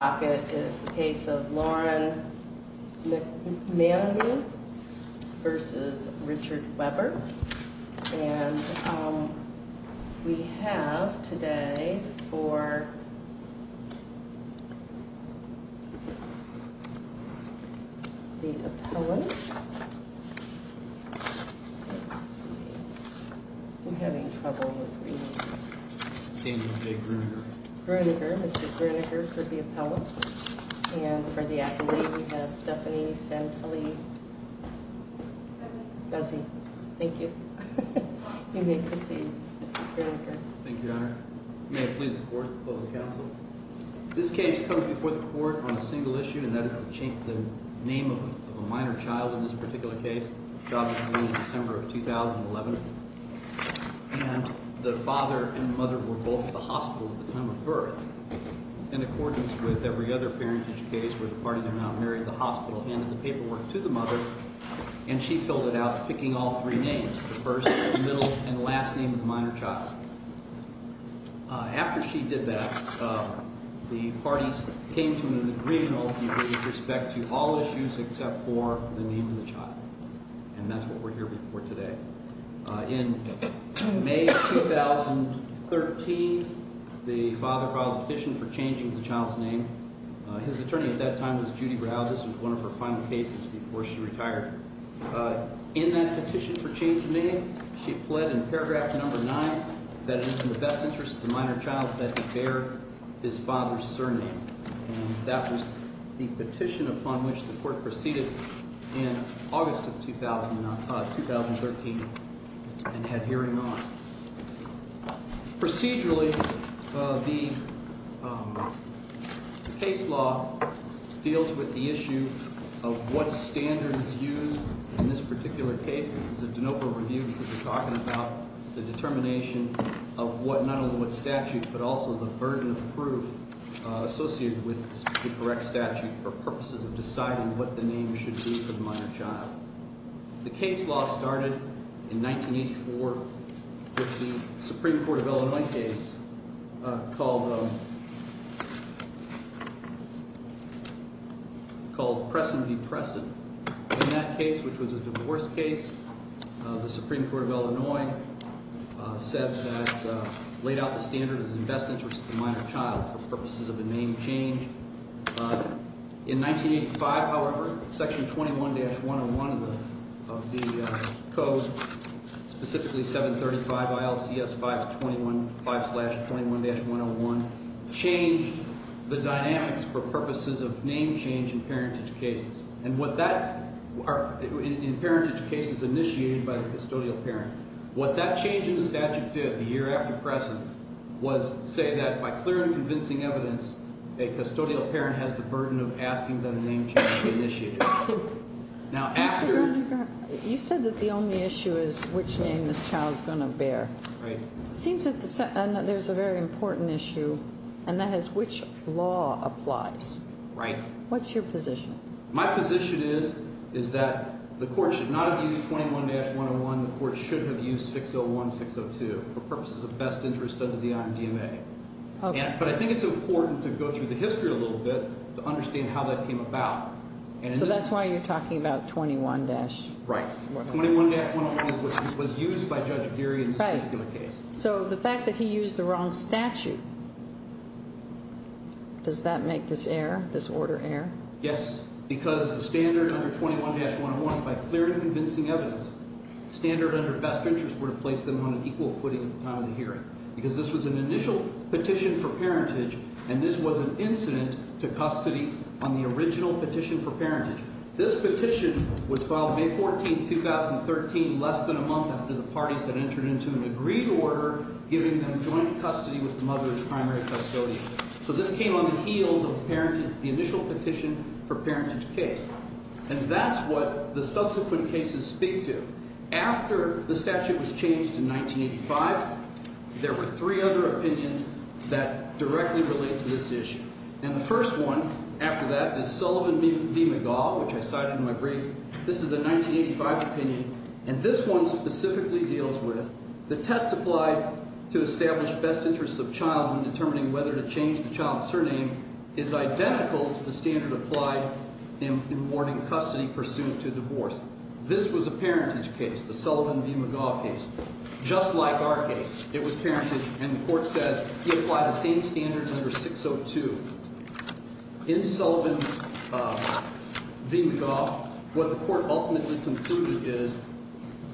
And we have today for the appellant, I'm having trouble with reading. The father filed a petition for changing the child's name. His attorney at that time was Judy Brow. This was one of her final cases before she retired. In that petition for changing name, she pled in paragraph number 9 that it is in the best interest of the minor child that he bear his father's surname. And that was the petition upon which the court proceeded in August of 2013 and had hearing on. Procedurally, the case law deals with the issue of what standard is used in this particular case. This is a de novo review because we're talking about the determination of what, not only what statute, but also the burden of proof associated with the correct statute for purposes of deciding what the name should be for the minor child. The case law started in 1984 with the Supreme Court of Illinois case called Presson v. Presson. In that case, which was a divorce case, the Supreme Court of Illinois laid out the standard as in the best interest of the minor child for purposes of a name change. In 1985, however, section 21-101 of the code, specifically 735 ILCS 521, 5 slash 21-101, changed the dynamics for purposes of name change in parentage cases. And what that, in parentage cases initiated by the custodial parent, what that change in the statute did the year after Presson was say that by clear and convincing evidence, a custodial parent has the burden of asking them to name change the initiator. Now, after... You said that the only issue is which name this child's going to bear. Right. It seems that there's a very important issue, and that is which law applies. Right. What's your position? My position is that the court should not have used 21-101. The court should have used 601-602 for purposes of best interest under the IMDMA. Okay. But I think it's important to go through the history a little bit to understand how that came about. So that's why you're talking about 21-... Right. 21-101 was used by Judge Geary in this particular case. So the fact that he used the wrong statute, does that make this error, this order error? Yes, because the standard under 21-101, by clear and convincing evidence, standard under best interest would have placed them on an equal footing at the time of the hearing. Because this was an initial petition for parentage, and this was an incident to custody on the original petition for parentage. This petition was filed May 14, 2013, less than a month after the parties had entered into an agreed order giving them joint custody with the mother as primary custodian. So this came on the heels of the initial petition for parentage case. And that's what the subsequent cases speak to. After the statute was changed in 1985, there were three other opinions that directly relate to this issue. And the first one after that is Sullivan v. McGaugh, which I cited in my brief. This is a 1985 opinion. And this one specifically deals with the test applied to establish best interests of child in determining whether to change the child's surname is identical to the standard applied in awarding custody pursuant to divorce. This was a parentage case, the Sullivan v. McGaugh case. Just like our case, it was parentage, and the court says he applied the same standard under 602. In Sullivan v. McGaugh, what the court ultimately concluded is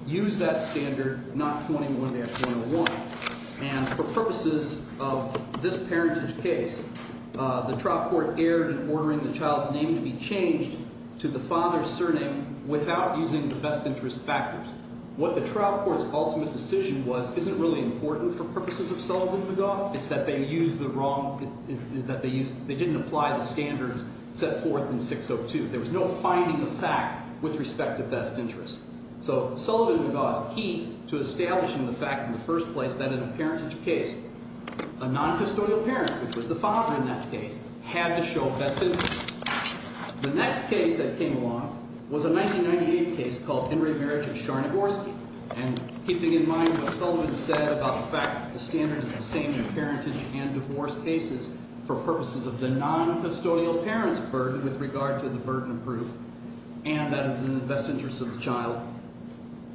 use that standard, not 21-101. And for purposes of this parentage case, the trial court erred in ordering the child's name to be changed to the father's surname without using the best interest factors. What the trial court's ultimate decision was isn't really important for purposes of Sullivan v. McGaugh. It's that they used the wrong – is that they didn't apply the standards set forth in 602. There was no finding of fact with respect to best interest. So Sullivan v. McGaugh's key to establishing the fact in the first place that in a parentage case, a noncustodial parent, which was the father in that case, had to show best interest. The next case that came along was a 1998 case called Henry Merritt v. Sharnagorsky. And keeping in mind what Sullivan said about the fact that the standard is the same in parentage and divorce cases for purposes of the noncustodial parent's burden with regard to the burden of proof and that is in the best interest of the child,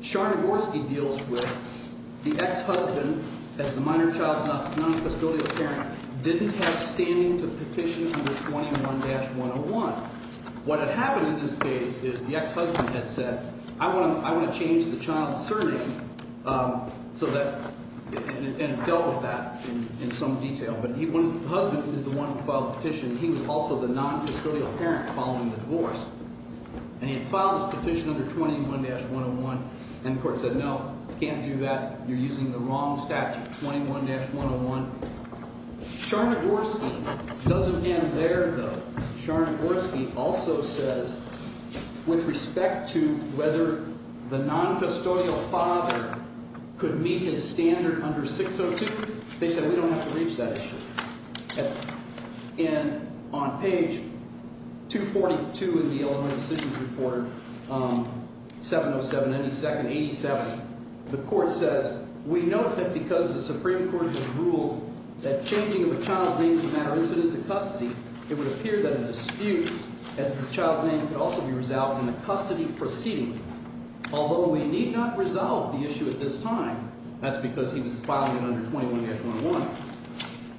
Sharnagorsky deals with the ex-husband as the minor child's noncustodial parent didn't have standing to petition under 21-101. What had happened in this case is the ex-husband had said, I want to change the child's surname so that – and dealt with that in some detail. But he – the husband is the one who filed the petition. He was also the noncustodial parent following the divorce. And he had filed his petition under 21-101 and the court said, no, can't do that. You're using the wrong statute, 21-101. Sharnagorsky doesn't end there, though. Sharnagorsky also says with respect to whether the noncustodial father could meet his standard under 602, they said we don't have to reach that issue. And on page 242 in the Elementary Decisions Report, 707-87, the court says, we note that because the Supreme Court has ruled that changing of a child's name is a matter incident to custody, it would appear that a dispute as to the child's name could also be resolved in the custody proceeding. Although we need not resolve the issue at this time, that's because he was filing it under 21-101,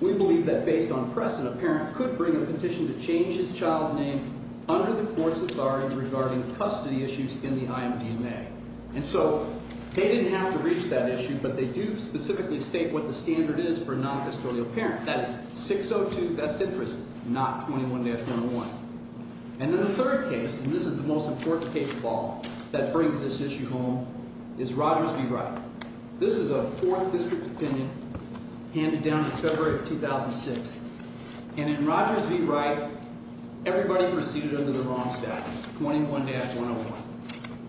we believe that based on precedent, a parent could bring a petition to change his child's name under the court's authority regarding custody issues in the IMDMA. And so they didn't have to reach that issue, but they do specifically state what the standard is for a noncustodial parent. That is 602 best interests, not 21-101. And then the third case, and this is the most important case of all that brings this issue home, is Rogers v. Wright. This is a Fourth District opinion handed down in February of 2006. And in Rogers v. Wright, everybody proceeded under the wrong statute, 21-101.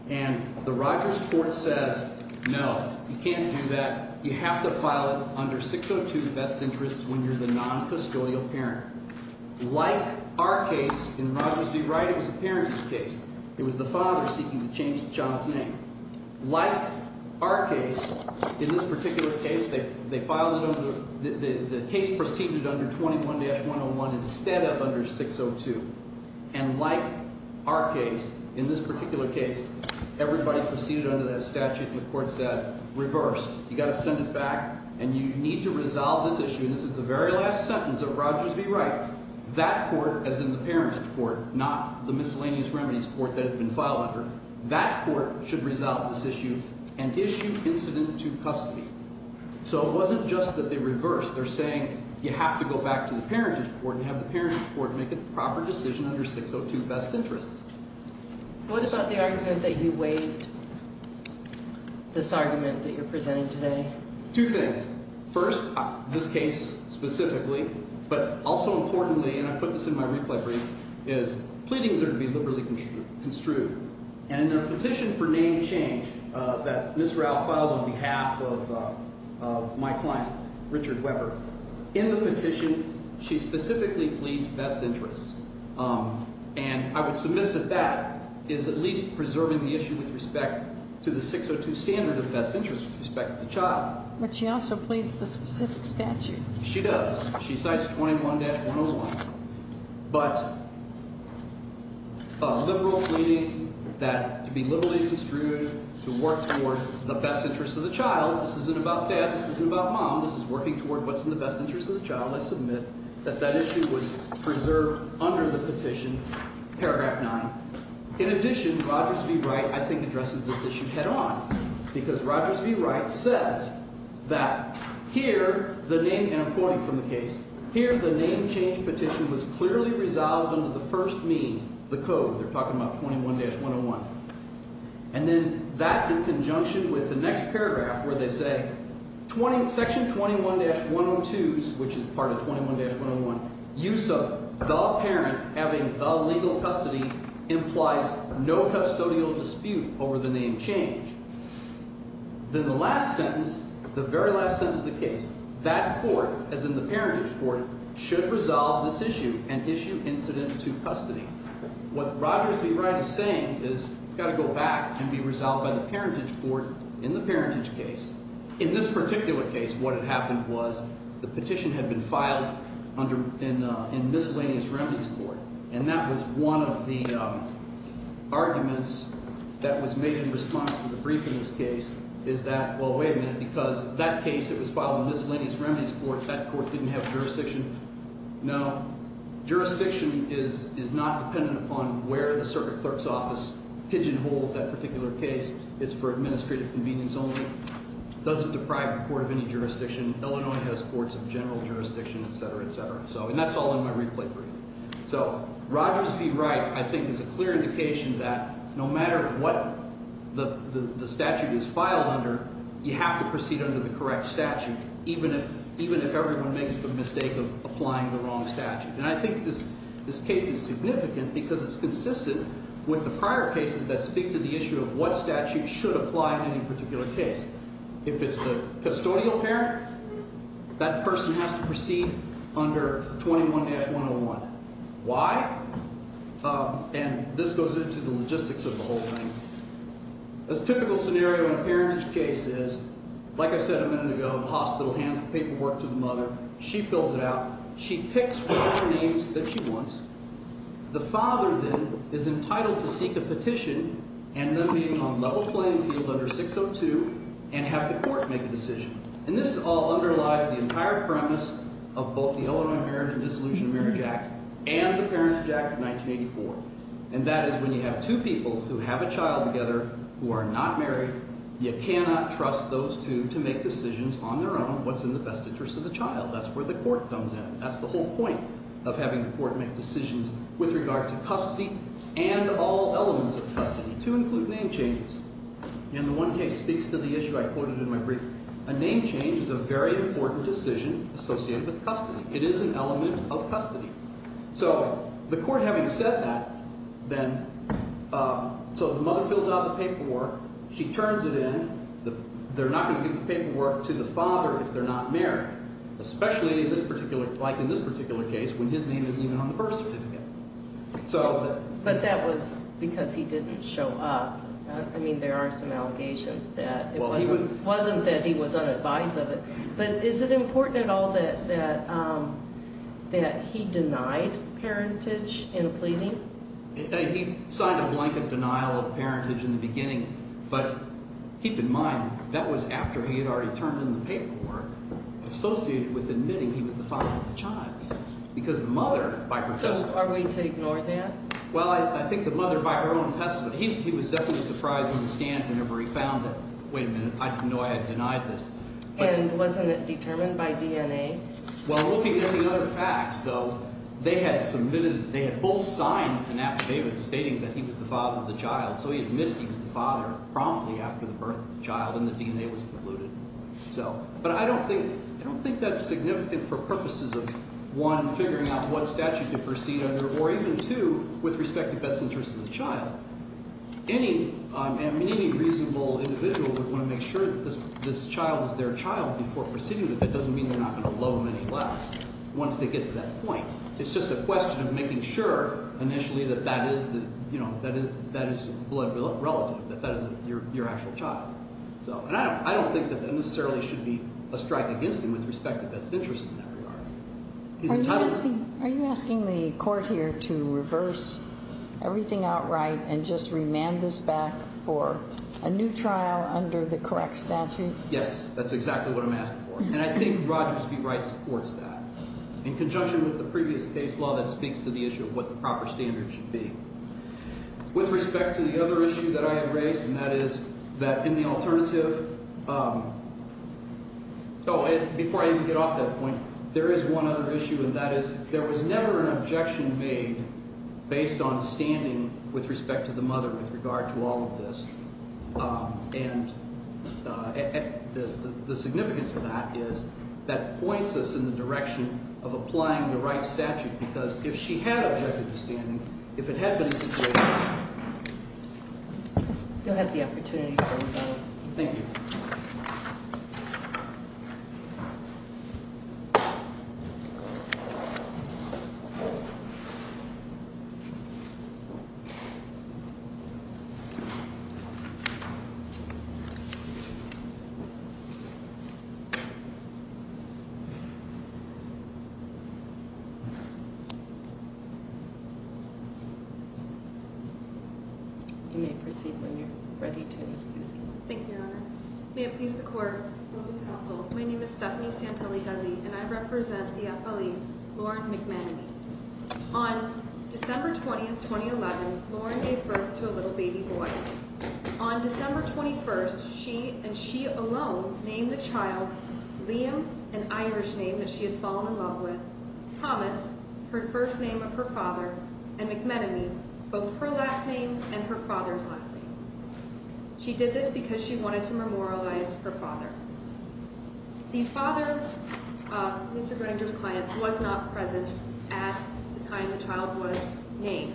And the Rogers court says, no, you can't do that. You have to file it under 602 best interests when you're the noncustodial parent. Like our case in Rogers v. Wright, it was the parent's case. It was the father seeking to change the child's name. Like our case, in this particular case, the case proceeded under 21-101 instead of under 602. And like our case, in this particular case, everybody proceeded under that statute, and the court said, reverse. You've got to send it back, and you need to resolve this issue. And this is the very last sentence of Rogers v. Wright. That court, as in the parent's court, not the miscellaneous remedies court that had been filed under, that court should resolve this issue and issue incident to custody. So it wasn't just that they reversed. They're saying you have to go back to the parentage court and have the parentage court make a proper decision under 602 best interests. What about the argument that you waived, this argument that you're presenting today? Two things. First, this case specifically, but also importantly, and I put this in my replay brief, is pleadings are to be liberally construed. And in the petition for name change that Ms. Ralph filed on behalf of my client, Richard Weber, in the petition, she specifically pleads best interests. And I would submit that that is at least preserving the issue with respect to the 602 standard of best interests with respect to the child. But she also pleads the specific statute. She does. She cites 21-101. But a liberal pleading that to be liberally construed, to work toward the best interests of the child. This isn't about dad. This isn't about mom. This is working toward what's in the best interests of the child. I submit that that issue was preserved under the petition, paragraph 9. In addition, Rogers v. Wright, I think, addresses this issue head on. Because Rogers v. Wright says that here the name – and I'm quoting from the case – here the name change petition was clearly resolved under the first means, the code. They're talking about 21-101. And then that in conjunction with the next paragraph where they say section 21-102, which is part of 21-101, use of the parent having the legal custody implies no custodial dispute over the name change. Then the last sentence, the very last sentence of the case, that court, as in the parentage court, should resolve this issue and issue incident to custody. What Rogers v. Wright is saying is it's got to go back and be resolved by the parentage court in the parentage case. In this particular case, what had happened was the petition had been filed under – in Miscellaneous Remedies Court. And that was one of the arguments that was made in response to the brief in this case is that, well, wait a minute, because that case, it was filed in Miscellaneous Remedies Court. That court didn't have jurisdiction. Now, jurisdiction is not dependent upon where the circuit clerk's office pigeonholes that particular case. It's for administrative convenience only. It doesn't deprive the court of any jurisdiction. Illinois has courts of general jurisdiction, etc., etc. And that's all in my replay brief. So Rogers v. Wright, I think, is a clear indication that no matter what the statute is filed under, you have to proceed under the correct statute even if everyone makes the mistake of applying the wrong statute. And I think this case is significant because it's consistent with the prior cases that speak to the issue of what statute should apply in any particular case. If it's the custodial parent, that person has to proceed under 21-101. Why? And this goes into the logistics of the whole thing. A typical scenario in a parentage case is, like I said a minute ago, the hospital hands the paperwork to the mother. She fills it out. She picks whatever names that she wants. The father, then, is entitled to seek a petition and then be on level playing field under 602 and have the court make a decision. And this all underlies the entire premise of both the Illinois Parent and Dissolution Marriage Act and the Parent Act of 1984. And that is when you have two people who have a child together who are not married, you cannot trust those two to make decisions on their own what's in the best interest of the child. That's where the court comes in. That's the whole point of having the court make decisions with regard to custody and all elements of custody, to include name changes. And the one case speaks to the issue I quoted in my brief. A name change is a very important decision associated with custody. It is an element of custody. So the court having said that, then, so the mother fills out the paperwork. She turns it in. They're not going to give the paperwork to the father if they're not married, especially in this particular, like in this particular case, when his name isn't even on the birth certificate. But that was because he didn't show up. I mean, there are some allegations that it wasn't that he was unadvised of it. But is it important at all that he denied parentage in a pleading? He signed a blanket denial of parentage in the beginning. But keep in mind, that was after he had already turned in the paperwork associated with admitting he was the father of the child because the mother, by her testament. So are we to ignore that? Well, I think the mother, by her own testament, he was definitely surprised when he scanned it or he found it. Wait a minute, I didn't know I had denied this. And wasn't it determined by DNA? Well, looking at the other facts, though, they had submitted, they had both signed an affidavit stating that he was the father of the child. So he admitted he was the father promptly after the birth of the child, and the DNA was concluded. So, but I don't think, I don't think that's significant for purposes of, one, figuring out what statute to proceed under, or even two, with respect to best interests of the child. Any reasonable individual would want to make sure that this child is their child before proceeding with it. That doesn't mean you're not going to blow them any less once they get to that point. It's just a question of making sure initially that that is, you know, that is blood relative, that that is your actual child. So, and I don't think that that necessarily should be a strike against him with respect to best interests in that regard. Are you asking, are you asking the court here to reverse everything outright and just remand this back for a new trial under the correct statute? Yes, that's exactly what I'm asking for. And I think Rogers v. Wright supports that. In conjunction with the previous case law, that speaks to the issue of what the proper standard should be. With respect to the other issue that I had raised, and that is that in the alternative, oh, before I even get off that point, there is one other issue, and that is there was never an objection made based on standing with respect to the mother with regard to all of this. And the significance of that is that points us in the direction of applying the right statute, because if she had objected to standing, if it had been a situation… You'll have the opportunity to say what you think. Thank you. You may proceed when you're ready to, excuse me. Thank you, Your Honour. May it please the court. My name is Stephanie Santelli-Guzzi, and I represent the affilee, Lauren McManamy. On December 20th, 2011, Lauren gave birth to a little baby boy. On December 21st, she and she alone named the child Liam, an Irish name that she had fallen in love with, Thomas, her first name of her father, and McManamy, both her last name and her father's last name. She did this because she wanted to memorialize her father. The father of Mr. Groninger's client was not present at the time the child was named.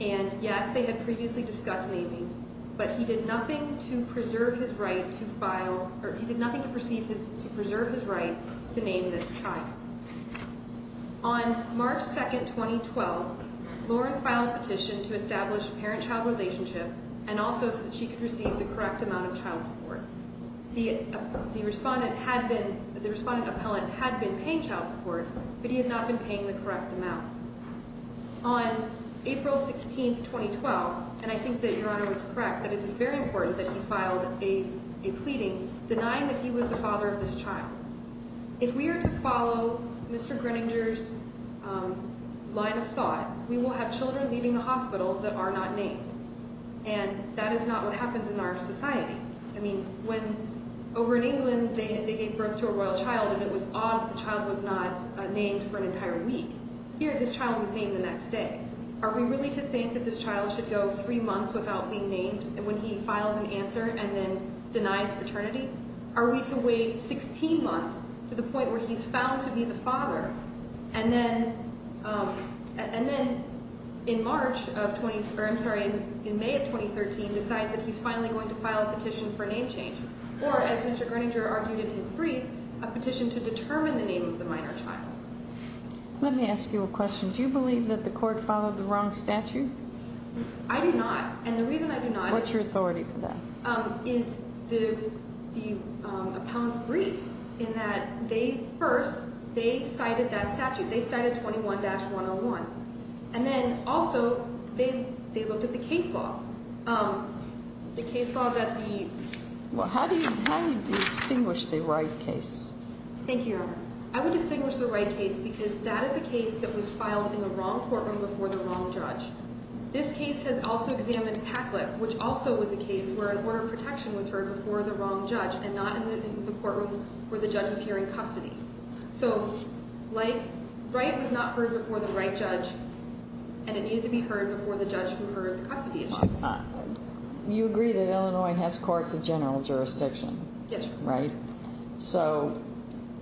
And, yes, they had previously discussed naming, but he did nothing to preserve his right to file, or he did nothing to preserve his right to name this child. On March 2nd, 2012, Lauren filed a petition to establish a parent-child relationship and also so that she could receive the correct amount of child support. The respondent appellant had been paying child support, but he had not been paying the correct amount. On April 16th, 2012, and I think that Your Honour is correct that it is very important that he filed a pleading denying that he was the father of this child. If we are to follow Mr. Groninger's line of thought, we will have children leaving the hospital that are not named. And that is not what happens in our society. I mean, when, over in England, they gave birth to a royal child and it was odd that the child was not named for an entire week. Here, this child was named the next day. Are we really to think that this child should go three months without being named when he files an answer and then denies paternity? Are we to wait 16 months to the point where he's found to be the father? And then, in May of 2013, decides that he's finally going to file a petition for a name change. Or, as Mr. Groninger argued in his brief, a petition to determine the name of the minor child. Let me ask you a question. Do you believe that the court followed the wrong statute? I do not. And the reason I do not is... What's your authority for that? ...is the opponent's brief in that they, first, they cited that statute. They cited 21-101. And then, also, they looked at the case law. The case law that the... How do you distinguish the right case? Thank you, Your Honor. I would distinguish the right case because that is a case that was filed in the wrong courtroom before the wrong judge. This case has also examined Patlip, which also was a case where an order of protection was heard before the wrong judge and not in the courtroom where the judge was hearing custody. So, right was not heard before the right judge, and it needed to be heard before the judge who heard the custody issue. You agree that Illinois has courts of general jurisdiction, right? Yes, Your Honor. So,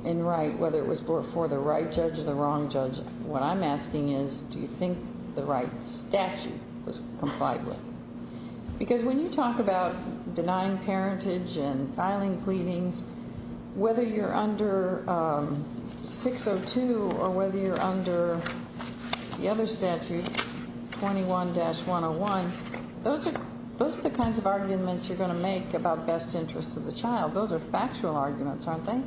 in right, whether it was before the right judge or the wrong judge, what I'm asking is do you think the right statute was complied with? Because when you talk about denying parentage and filing pleadings, whether you're under 602 or whether you're under the other statute, 21-101, those are the kinds of arguments you're going to make about best interests of the child. Those are factual arguments, aren't they?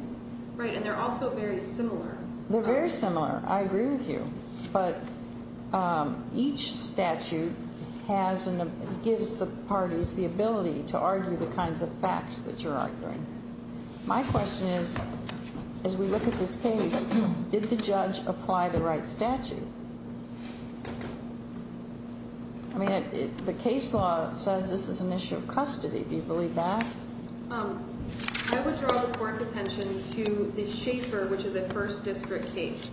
Right, and they're also very similar. They're very similar. I agree with you. But each statute gives the parties the ability to argue the kinds of facts that you're arguing. My question is, as we look at this case, did the judge apply the right statute? I mean, the case law says this is an issue of custody. Do you believe that? I would draw the court's attention to the Schaefer, which is a first district case.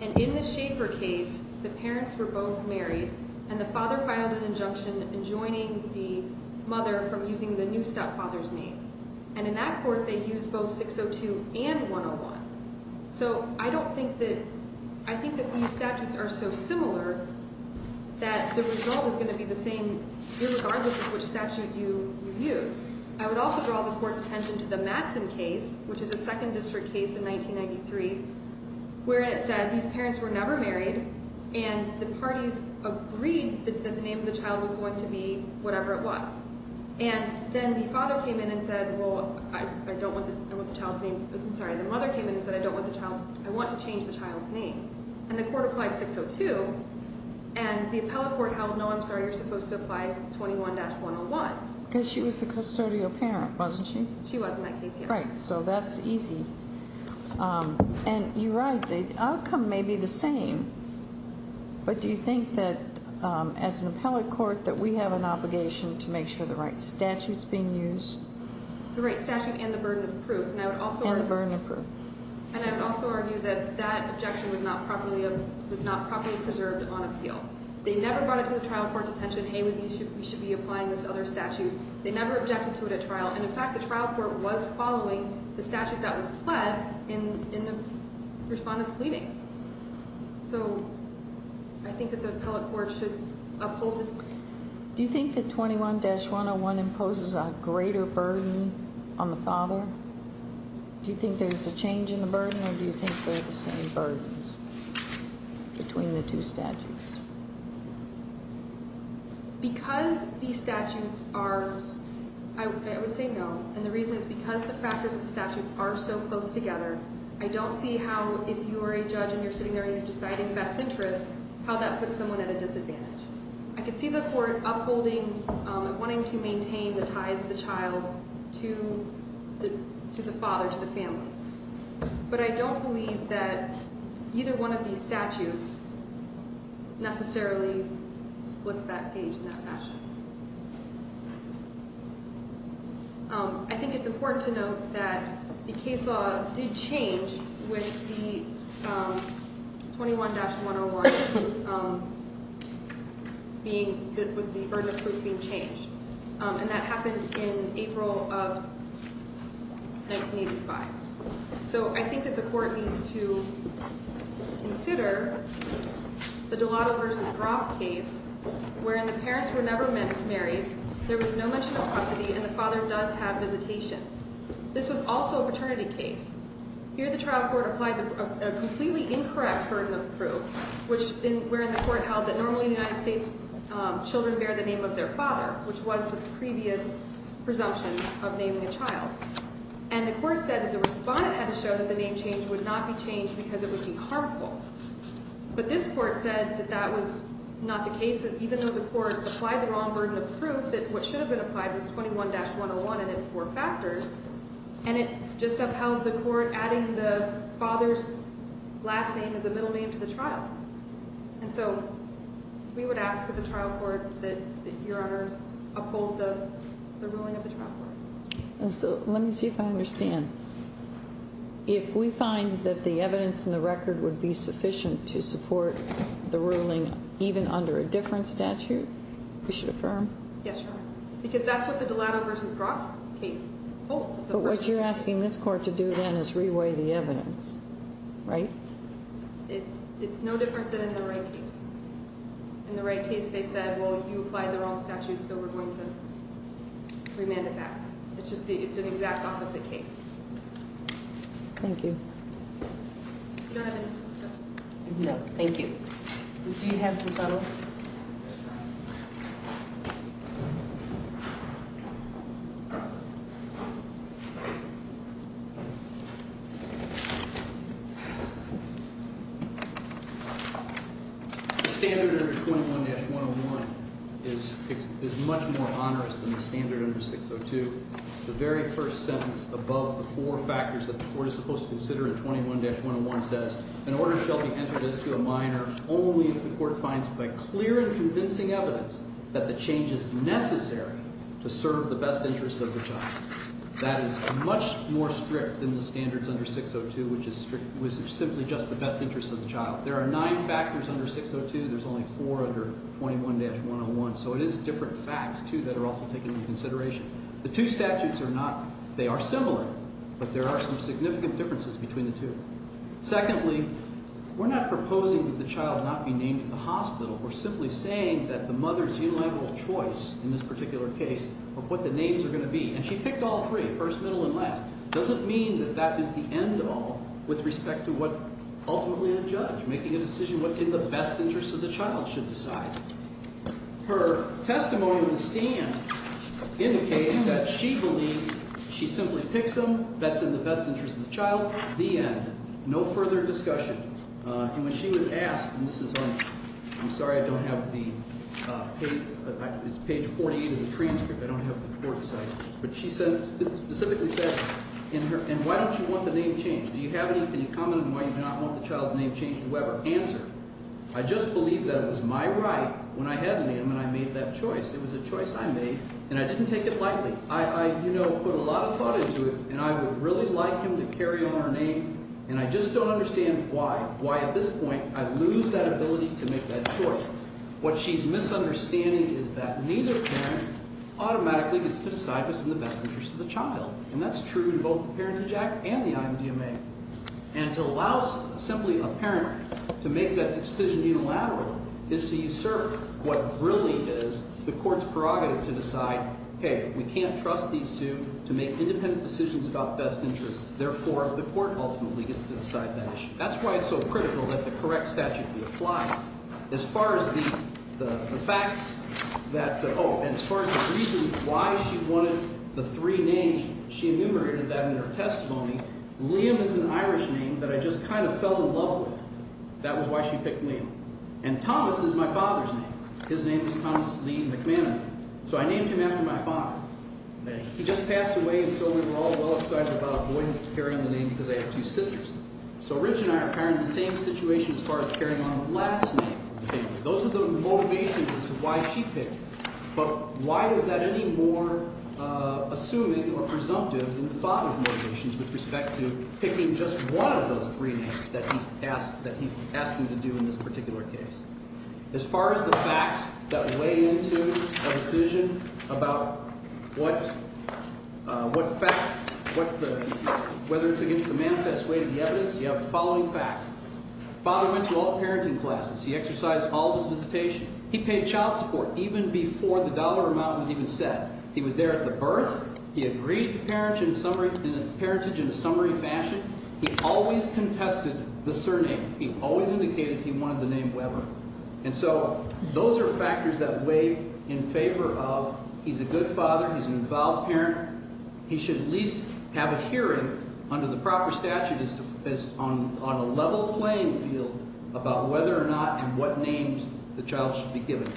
And in the Schaefer case, the parents were both married, and the father filed an injunction enjoining the mother from using the new stepfather's name. And in that court, they used both 602 and 101. So I don't think that – I think that these statutes are so similar that the result is going to be the same irregardless of which statute you use. I would also draw the court's attention to the Madsen case, which is a second district case in 1993, where it said these parents were never married, and the parties agreed that the name of the child was going to be whatever it was. And then the father came in and said, well, I don't want the child's name – I'm sorry, the mother came in and said, I don't want the child's – I want to change the child's name. And the court applied 602, and the appellate court held, no, I'm sorry, you're supposed to apply 21-101. Because she was the custodial parent, wasn't she? She was in that case, yes. Right, so that's easy. And you're right, the outcome may be the same, but do you think that as an appellate court that we have an obligation to make sure the right statute's being used? The right statute and the burden of proof. And the burden of proof. And I would also argue that that objection was not properly preserved on appeal. They never brought it to the trial court's attention, hey, we should be applying this other statute. They never objected to it at trial. And, in fact, the trial court was following the statute that was pled in the respondent's pleadings. So I think that the appellate court should uphold it. Do you think that 21-101 imposes a greater burden on the father? Do you think there's a change in the burden, or do you think they're the same burdens between the two statutes? Because these statutes are, I would say no. And the reason is because the factors of the statutes are so close together, I don't see how if you are a judge and you're sitting there and you're deciding best interest, how that puts someone at a disadvantage. I could see the court upholding and wanting to maintain the ties of the child to the father, to the family. But I don't believe that either one of these statutes necessarily splits that page in that fashion. I think it's important to note that the case law did change with the 21-101 being, with the urgent proof being changed. And that happened in April of 1985. So I think that the court needs to consider the Delato v. Groff case, wherein the parents were never married, there was no mention of custody, and the father does have visitation. This was also a fraternity case. Here the trial court applied a completely incorrect burden of proof, wherein the court held that normally in the United States, children bear the name of their father, which was the previous presumption of naming a child. And the court said that the respondent had to show that the name change would not be changed because it would be harmful. But this court said that that was not the case, even though the court applied the wrong burden of proof, that what should have been applied was 21-101 and its four factors. And it just upheld the court adding the father's last name as a middle name to the trial. And so we would ask of the trial court that Your Honor uphold the ruling of the trial court. And so let me see if I understand. If we find that the evidence in the record would be sufficient to support the ruling even under a different statute, we should affirm? Yes, Your Honor. Because that's what the Delato v. Groff case holds. But what you're asking this court to do then is reweigh the evidence, right? It's no different than in the Wright case. In the Wright case, they said, well, you applied the wrong statute, so we're going to remand it back. It's an exact opposite case. Thank you. You don't have anything else to say? No, thank you. Do you have some funnels? The standard under 21-101 is much more onerous than the standard under 602. The very first sentence above the four factors that the court is supposed to consider in 21-101 says, an order shall be entered as to a minor only if the court finds by clear and convincing evidence that the change is necessary to serve the best interest of the child. That is much more strict than the standards under 602, which is simply just the best interest of the child. There are nine factors under 602. There's only four under 21-101. So it is different facts, too, that are also taken into consideration. The two statutes are not – they are similar, but there are some significant differences between the two. Secondly, we're not proposing that the child not be named at the hospital. We're simply saying that the mother's unilateral choice in this particular case of what the names are going to be – and she picked all three, first, middle, and last. It doesn't mean that that is the end all with respect to what ultimately a judge making a decision what's in the best interest of the child should decide. Her testimony in the stand indicates that she believes she simply picks them. That's in the best interest of the child. The end. No further discussion. And when she was asked – and this is on – I'm sorry I don't have the – it's page 48 of the transcript. I don't have the court site. But she said – specifically said in her – and why don't you want the name changed? Do you have any – can you comment on why you do not want the child's name changed, whoever? Answer. I just believe that it was my right when I had Liam and I made that choice. It was a choice I made, and I didn't take it lightly. I put a lot of thought into it, and I would really like him to carry on our name, and I just don't understand why, why at this point I lose that ability to make that choice. What she's misunderstanding is that neither parent automatically gets to decide what's in the best interest of the child. And that's true in both the Parentage Act and the IMDMA. And to allow simply a parent to make that decision unilaterally is to usurp what really is the court's prerogative to decide, hey, we can't trust these two to make independent decisions about best interest. Therefore, the court ultimately gets to decide that issue. That's why it's so critical that the correct statute be applied. As far as the facts that – oh, and as far as the reason why she wanted the three names, she enumerated that in her testimony. Liam is an Irish name that I just kind of fell in love with. That was why she picked Liam. And Thomas is my father's name. His name is Thomas Lee McManaman. So I named him after my father. He just passed away, and so we were all well excited about a boy carrying the name because I have two sisters. So Rich and I are pairing the same situation as far as carrying on the last name. Those are the motivations as to why she picked that. But why is that any more assuming or presumptive than the father's motivations with respect to picking just one of those three names that he's asking to do in this particular case? As far as the facts that weigh into a decision about what – whether it's against the manifest way to the evidence, you have the following facts. Father went to all parenting classes. He exercised all of his visitation. He paid child support even before the dollar amount was even set. He was there at the birth. He agreed to parentage in a summary fashion. He always contested the surname. He always indicated he wanted the name Weber. And so those are factors that weigh in favor of he's a good father. He's an involved parent. He should at least have a hearing under the proper statute as to – on a level playing field about whether or not and what names the child should be given.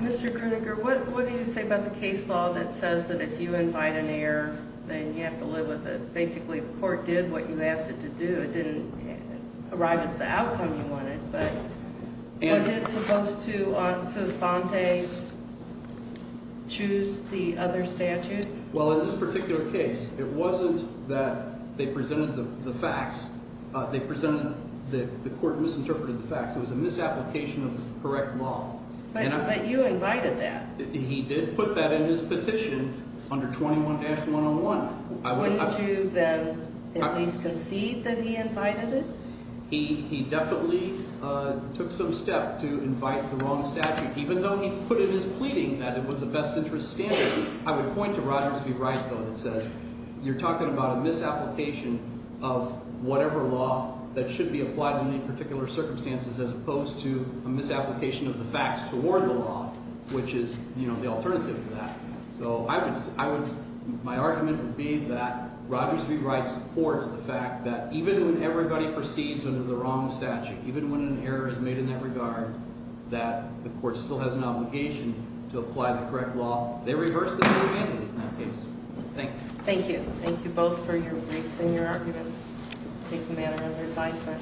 Mr. Gruninger, what do you say about the case law that says that if you invite an error, then you have to live with it? Basically the court did what you asked it to do. It didn't arrive at the outcome you wanted. But was it supposed to – so Fante choose the other statute? Well, in this particular case, it wasn't that they presented the facts. They presented that the court misinterpreted the facts. It was a misapplication of the correct law. But you invited that. He did put that in his petition under 21-101. Wouldn't you then at least concede that he invited it? He definitely took some step to invite the wrong statute, even though he put it in his pleading that it was a best interest standard. I would point to Rogers v. Wright, though, that says you're talking about a misapplication of whatever law that should be applied in any particular circumstances as opposed to a misapplication of the facts toward the law, which is the alternative to that. So I would – my argument would be that Rogers v. Wright supports the fact that even when everybody perceives under the wrong statute, even when an error is made in that regard, that the court still has an obligation to apply the correct law. They reversed the whole entity in that case. Thank you. Thank you. Thank you both for your briefs and your arguments. Take the matter under advisement.